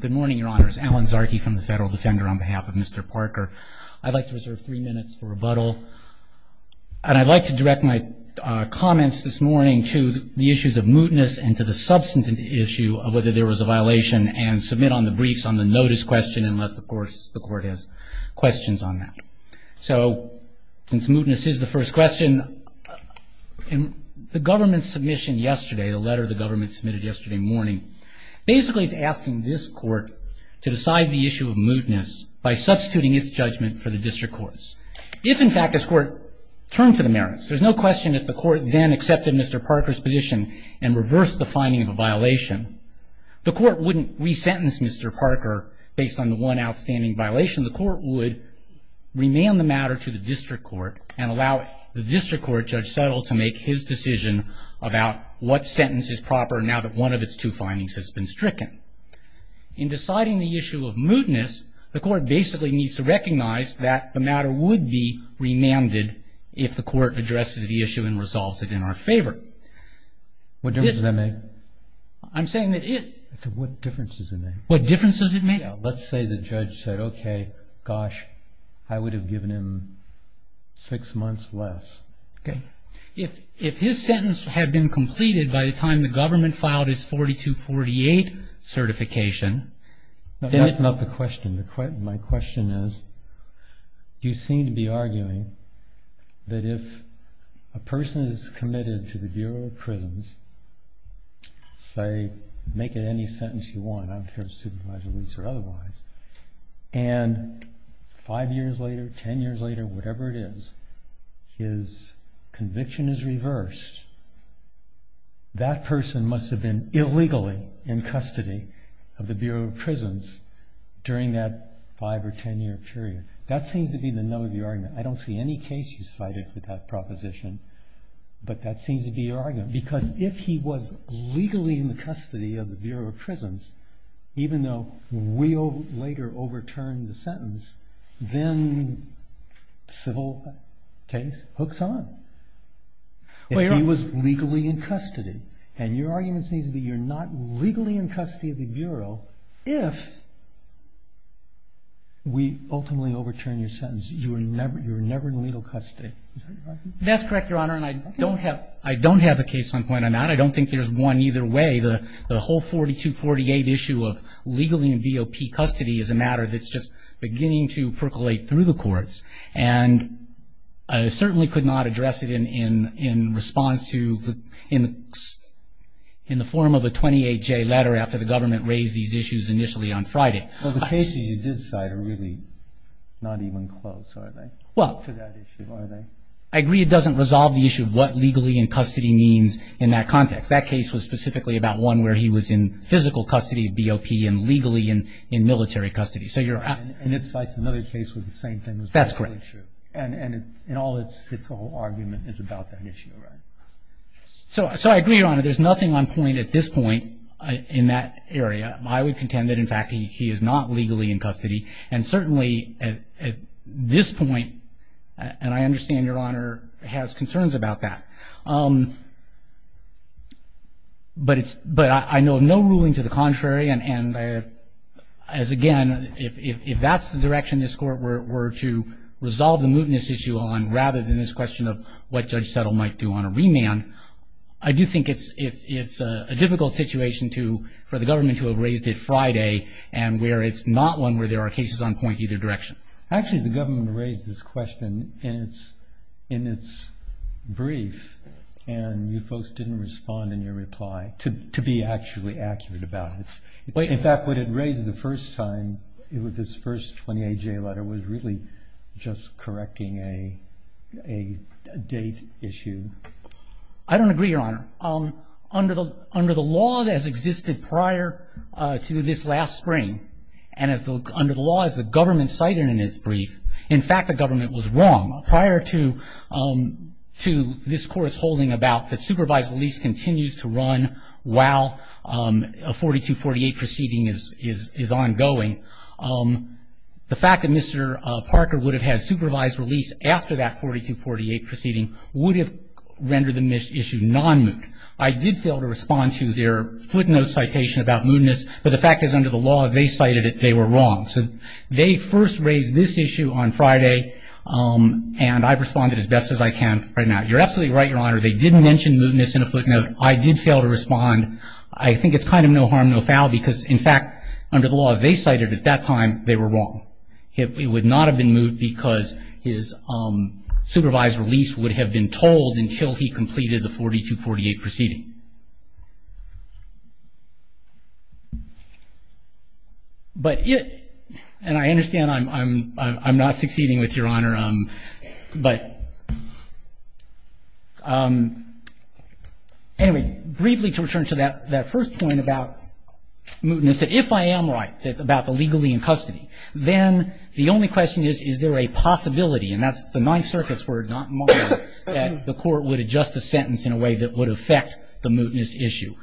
Good morning, your honors. Alan Zarki from the Federal Defender on behalf of Mr. Parker. I'd like to reserve three minutes for rebuttal. And I'd like to direct my comments this morning to the issues of mootness and to the substantive issue of whether there was a violation and submit on the briefs on the notice question unless, of course, the court has questions on that. So since mootness is the first question, the government's submission yesterday, the letter the government submitted yesterday morning, basically is asking this court to decide the issue of mootness by substituting its judgment for the district court's. If, in fact, this court turned to the merits, there's no question if the court then accepted Mr. Parker's position and reversed the finding of a violation, the court wouldn't resentence Mr. Parker based on the one outstanding violation. The court would remand the matter to the district court and allow the district court, Judge Settle, to make his decision about what sentence is proper now that one of its two findings has been stricken. In deciding the issue of mootness, the court basically needs to recognize that the matter would be remanded if the court addresses the issue and resolves it in our favor. What difference does that make? I'm saying that it... I said, what difference does it make? What difference does it make? Let's say the judge said, okay, gosh, I would have given him six months less. If his sentence had been completed by the time the government filed his 4248 certification... That's not the question. My question is, you seem to be arguing that if a person is committed to the Bureau of Prisons, say, make it any sentence you want, I don't care if it's supervised release or otherwise, and five years later, ten years later, whatever it is, his conviction is reversed, that person must have been illegally in custody of the Bureau of Prisons during that five or ten year period. That seems to be the nub of your argument. I don't see any case you cited with that proposition, but that seems to be your argument. Because if he was legally in the custody of the Bureau of Prisons, even though we later overturned the sentence, then civil case hooks on. If he was legally in custody, and your argument seems to be you're not legally in custody of the Bureau if we ultimately overturned your sentence, you were never in legal custody. Is that your argument? That's correct, Your Honor, and I don't have a case on point on that. I don't think there's one either way. The whole 4248 issue of legally in BOP custody is a matter that's just beginning to percolate through the courts, and I certainly could not address it in response to in the form of a 28-J letter after the government raised these issues initially on Friday. Well, the cases you did cite are really not even close, are they, to that issue, are they? I agree it doesn't resolve the issue of what legally in custody means in that context. That case was specifically about one where he was in physical custody of BOP and legally in military custody. And it cites another case with the same thing. That's correct. And its whole argument is about that issue, right? So I agree, Your Honor. There's nothing on point at this point in that area. I would contend that, in fact, he is not legally in custody, and certainly at this point, and I understand Your Honor has concerns about that. But I know of no ruling to the contrary, and, again, if that's the direction this Court were to resolve the mootness issue on rather than this question of what Judge Settle might do on a remand, I do think it's a difficult situation for the government to have raised it Friday and where it's not one where there are cases on point either direction. Actually, the government raised this question in its brief, and you folks didn't respond in your reply to be actually accurate about it. In fact, what it raised the first time with this first 28-J letter was really just correcting a date issue. I don't agree, Your Honor. Under the law that has existed prior to this last spring, and under the law as the government cited in its brief, in fact, the government was wrong. Prior to this Court's holding about the supervised release continues to run while a 4248 proceeding is ongoing, the fact that Mr. Parker would have had supervised release after that 4248 proceeding would have rendered the issue non-moot. I did fail to respond to their footnote citation about mootness, but the fact is under the law as they cited it, they were wrong. So they first raised this issue on Friday, and I've responded as best as I can right now. You're absolutely right, Your Honor. They didn't mention mootness in a footnote. I did fail to respond. I think it's kind of no harm, no foul, because, in fact, under the law as they cited it at that time, they were wrong. It would not have been moot because his supervised release would have been told until he completed the 4248 proceeding. But it – and I understand I'm not succeeding with Your Honor, but anyway, briefly to return to that first point about mootness, is that if I am right about the legally in custody, then the only question is, is there a possibility, and that's the Ninth Circuit's word, not mine, that the court would adjust the sentence in a way that would affect the mootness issue.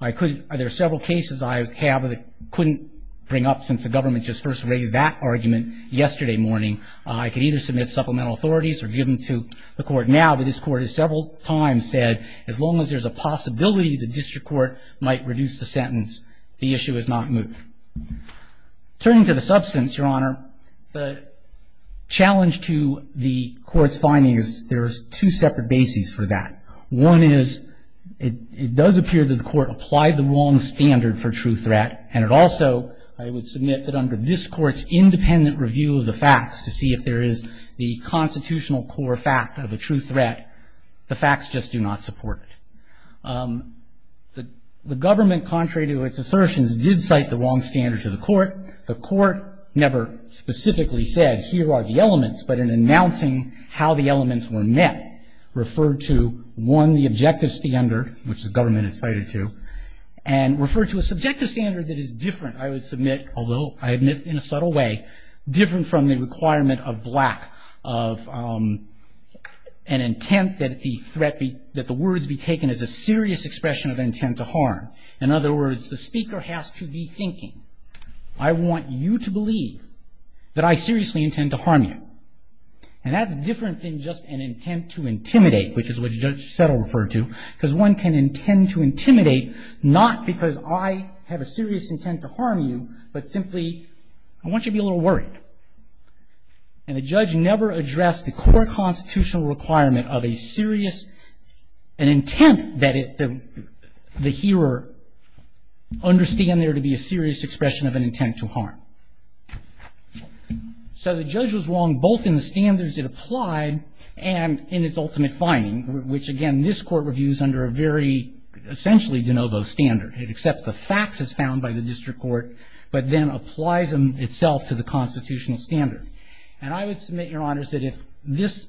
I could – there are several cases I have that I couldn't bring up since the government just first raised that argument yesterday morning. I could either submit supplemental authorities or give them to the court now, but this Court has several times said as long as there's a possibility the district court might reduce the sentence, the issue is not moot. Turning to the substance, Your Honor, the challenge to the Court's findings, there's two separate bases for that. One is it does appear that the Court applied the wrong standard for true threat, and it also, I would submit that under this Court's independent review of the facts to see if there is the constitutional core fact of a true threat, the facts just do not support it. The government, contrary to its assertions, did cite the wrong standard to the court. The court never specifically said, here are the elements, but in announcing how the elements were met, referred to, one, the objective standard, which the government had cited to, and referred to a subjective standard that is different, I would submit, although I admit in a subtle way, different from the requirement of black, of an intent that the threat be, that the words be taken as a serious expression of intent to harm. In other words, the speaker has to be thinking, I want you to believe that I seriously intend to harm you. And that's different than just an intent to intimidate, which is what Judge Settle referred to, because one can intend to intimidate not because I have a serious intent to harm you, but simply I want you to be a little worried. And the judge never addressed the core constitutional requirement of a serious, an intent that the hearer understand there to be a serious expression of an intent to harm. So the judge was wrong both in the standards it applied and in its ultimate finding, which, again, this Court reviews under a very essentially de novo standard. It accepts the facts as found by the district court, but then applies them itself to the constitutional standard. And I would submit, Your Honors, that if this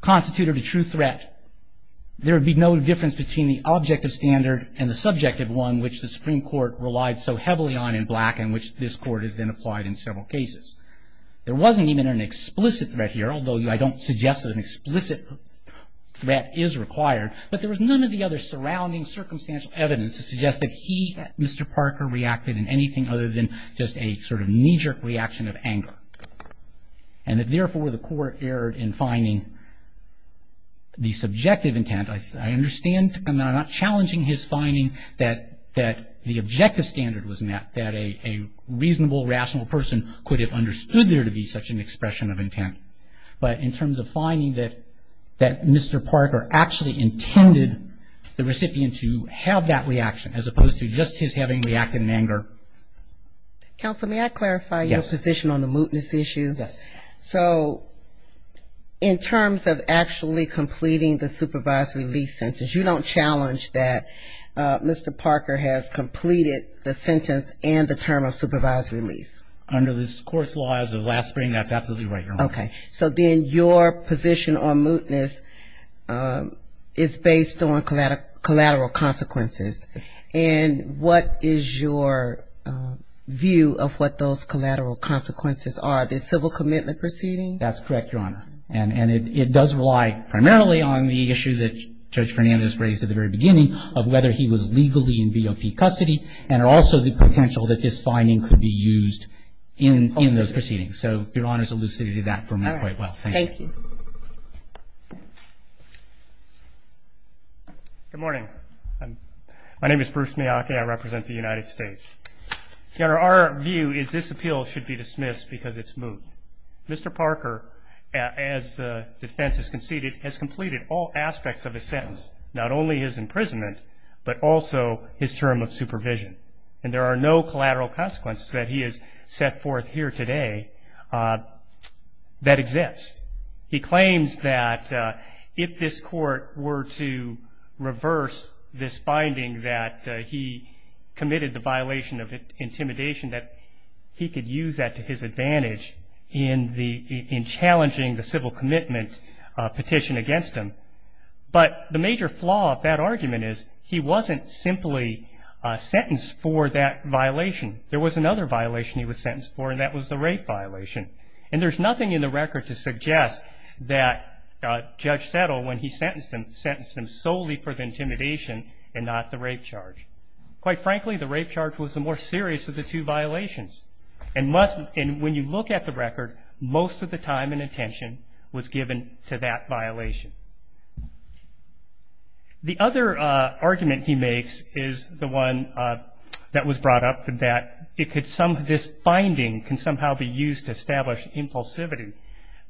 constituted a true threat, there would be no difference between the objective standard and the subjective one, which the Supreme Court relied so heavily on in black, and which this Court has then applied in several cases. There wasn't even an explicit threat here, although I don't suggest that an explicit threat is required, but there was none of the other surrounding circumstantial evidence to suggest that he, Mr. Parker, reacted in anything other than just a sort of knee-jerk reaction of anger. And that, therefore, the Court erred in finding the subjective intent. I understand and I'm not challenging his finding that the objective standard was met, that a reasonable, rational person could have understood there to be such an expression of intent. But in terms of finding that Mr. Parker actually intended the recipient to have that reaction, as opposed to just his having reacted in anger. Counsel, may I clarify your position on the mootness issue? Yes. So in terms of actually completing the supervised release sentence, you don't challenge that Mr. Parker has completed the sentence and the term of supervised release? Under this Court's laws of last spring, that's absolutely right, Your Honor. Okay. So then your position on mootness is based on collateral consequences. And what is your view of what those collateral consequences are? The civil commitment proceeding? That's correct, Your Honor. And it does rely primarily on the issue that Judge Fernandez raised at the very beginning of whether he was legally in BOP custody and also the potential that this finding could be used in those proceedings. So Your Honor's elucidated that for me quite well. Thank you. All right. Thank you. Good morning. My name is Bruce Miyake. I represent the United States. Your Honor, our view is this appeal should be dismissed because it's moot. Mr. Parker, as defense has conceded, has completed all aspects of the sentence, not only his imprisonment, but also his term of supervision. And there are no collateral consequences that he has set forth here today that exist. He claims that if this Court were to reverse this finding that he committed the violation of intimidation, that he could use that to his advantage in challenging the civil commitment petition against him. But the major flaw of that argument is he wasn't simply sentenced for that violation. There was another violation he was sentenced for, and that was the rape violation. And there's nothing in the record to suggest that Judge Settle, when he sentenced him, sentenced him solely for the intimidation and not the rape charge. Quite frankly, the rape charge was the more serious of the two violations. And when you look at the record, most of the time and attention was given to that violation. The other argument he makes is the one that was brought up, that this finding can somehow be used to establish impulsivity.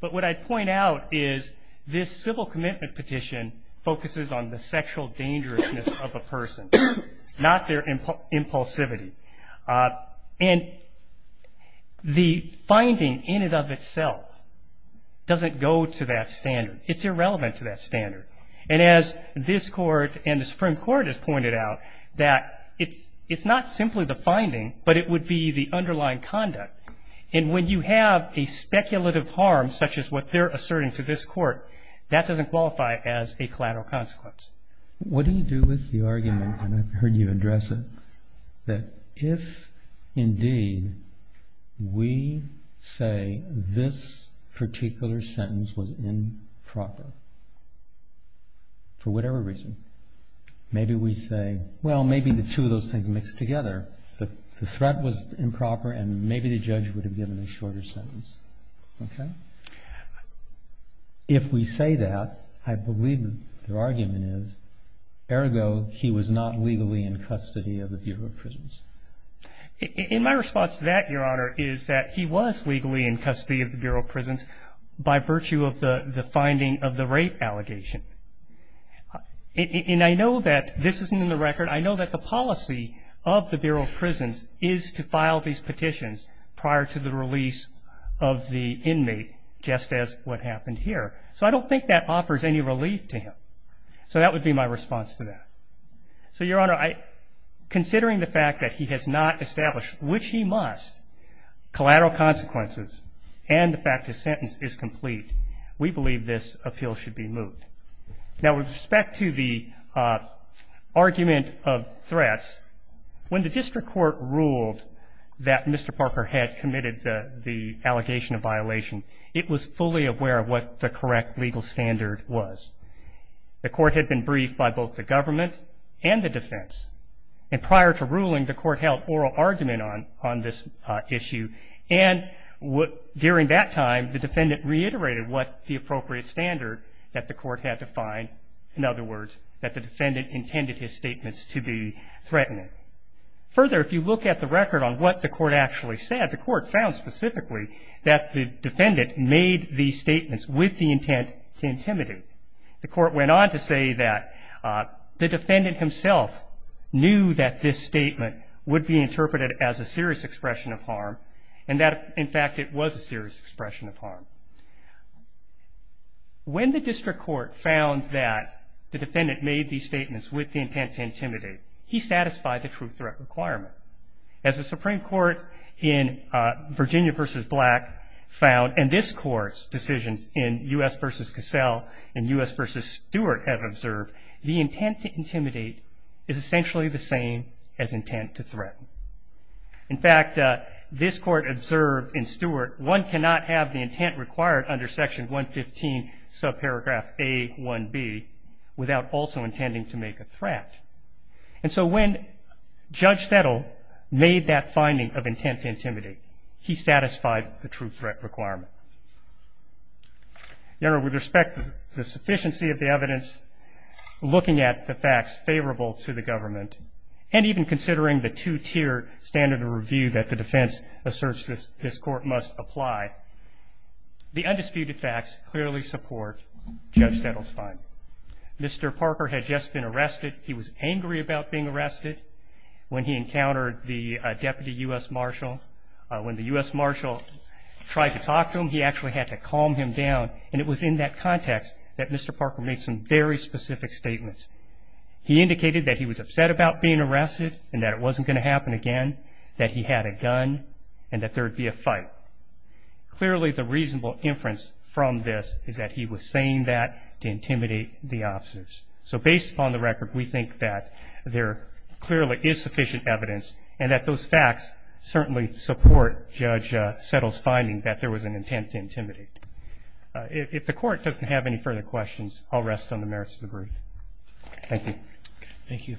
But what I'd point out is this civil commitment petition focuses on the sexual dangerousness of a person, not their impulsivity. And the finding in and of itself doesn't go to that standard. It's irrelevant to that standard. And as this Court and the Supreme Court has pointed out, that it's not simply the finding, but it would be the underlying conduct. And when you have a speculative harm, such as what they're asserting to this Court, that doesn't qualify as a collateral consequence. What do you do with the argument, and I've heard you address it, that if indeed we say this particular sentence was improper, for whatever reason, maybe we say, well, maybe the two of those things mixed together. The threat was improper and maybe the judge would have given a shorter sentence. Okay? If we say that, I believe the argument is, ergo, he was not legally in custody of the Bureau of Prisons. In my response to that, Your Honor, is that he was legally in custody of the Bureau of Prisons by virtue of the finding of the rape allegation. And I know that this isn't in the record. I know that the policy of the Bureau of Prisons is to file these petitions prior to the release of the inmate, just as what happened here. So I don't think that offers any relief to him. So that would be my response to that. So, Your Honor, considering the fact that he has not established, which he must, collateral consequences and the fact his sentence is complete, we believe this appeal should be moved. Now, with respect to the argument of threats, when the district court ruled that Mr. Parker had committed the allegation of violation, it was fully aware of what the correct legal standard was. The court had been briefed by both the government and the defense. And prior to ruling, the court held oral argument on this issue. And during that time, the defendant reiterated what the appropriate standard that the court had defined, in other words, that the defendant intended his statements to be threatening. Further, if you look at the record on what the court actually said, the court found specifically that the defendant made these statements with the intent to intimidate. The court went on to say that the defendant himself knew that this statement would be interpreted as a serious expression of harm and that, in fact, it was a serious expression of harm. When the district court found that the defendant made these statements with the intent to intimidate, he satisfied the true threat requirement. As the Supreme Court in Virginia v. Black found, and this Court's decisions in U.S. v. Cassell and U.S. v. Stewart have observed, the intent to intimidate is essentially the same as intent to threaten. In fact, this Court observed in Stewart, one cannot have the intent required under Section 115, subparagraph A1b, without also intending to make a threat. And so when Judge Settle made that finding of intent to intimidate, he satisfied the true threat requirement. Your Honor, with respect to the sufficiency of the evidence, looking at the facts favorable to the government, and even considering the two-tier standard of review that the defense asserts this Court must apply, the undisputed facts clearly support Judge Settle's finding. Mr. Parker had just been arrested. He was angry about being arrested when he encountered the Deputy U.S. Marshal. When the U.S. Marshal tried to talk to him, he actually had to calm him down. And it was in that context that Mr. Parker made some very specific statements. He indicated that he was upset about being arrested and that it wasn't going to happen again, that he had a gun, and that there would be a fight. Clearly, the reasonable inference from this is that he was saying that to intimidate the officers. So based upon the record, we think that there clearly is sufficient evidence and that those facts certainly support Judge Settle's finding that there was an intent to intimidate. If the Court doesn't have any further questions, I'll rest on the merits of the brief. Thank you. Thank you.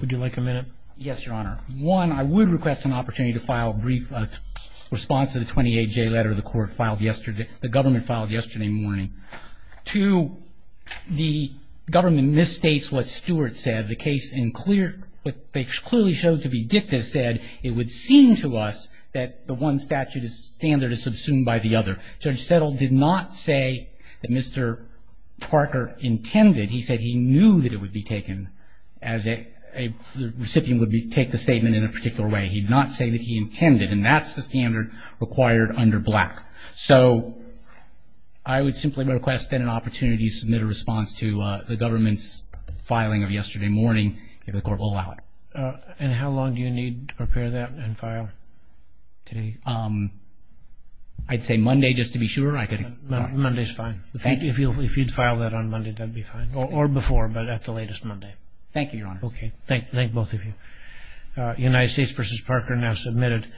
Would you like a minute? Yes, Your Honor. One, I would request an opportunity to file a brief response to the 28-J letter the Government filed yesterday morning. Two, the Government misstates what Stewart said. The case in clear, what they clearly showed to be dicta said it would seem to us that the one statute's standard is subsumed by the other. Judge Settle did not say that Mr. Parker intended. He said he knew that it would be taken as a recipient would take the statement in a particular way. He did not say that he intended. And that's the standard required under Black. So I would simply request then an opportunity to submit a response to the Government's filing of yesterday morning, if the Court will allow it. And how long do you need to prepare that and file today? I'd say Monday just to be sure. Monday's fine. If you'd file that on Monday, that'd be fine. Or before, but at the latest Monday. Thank you, Your Honor. Okay. Thank both of you. United States v. Parker now submitted.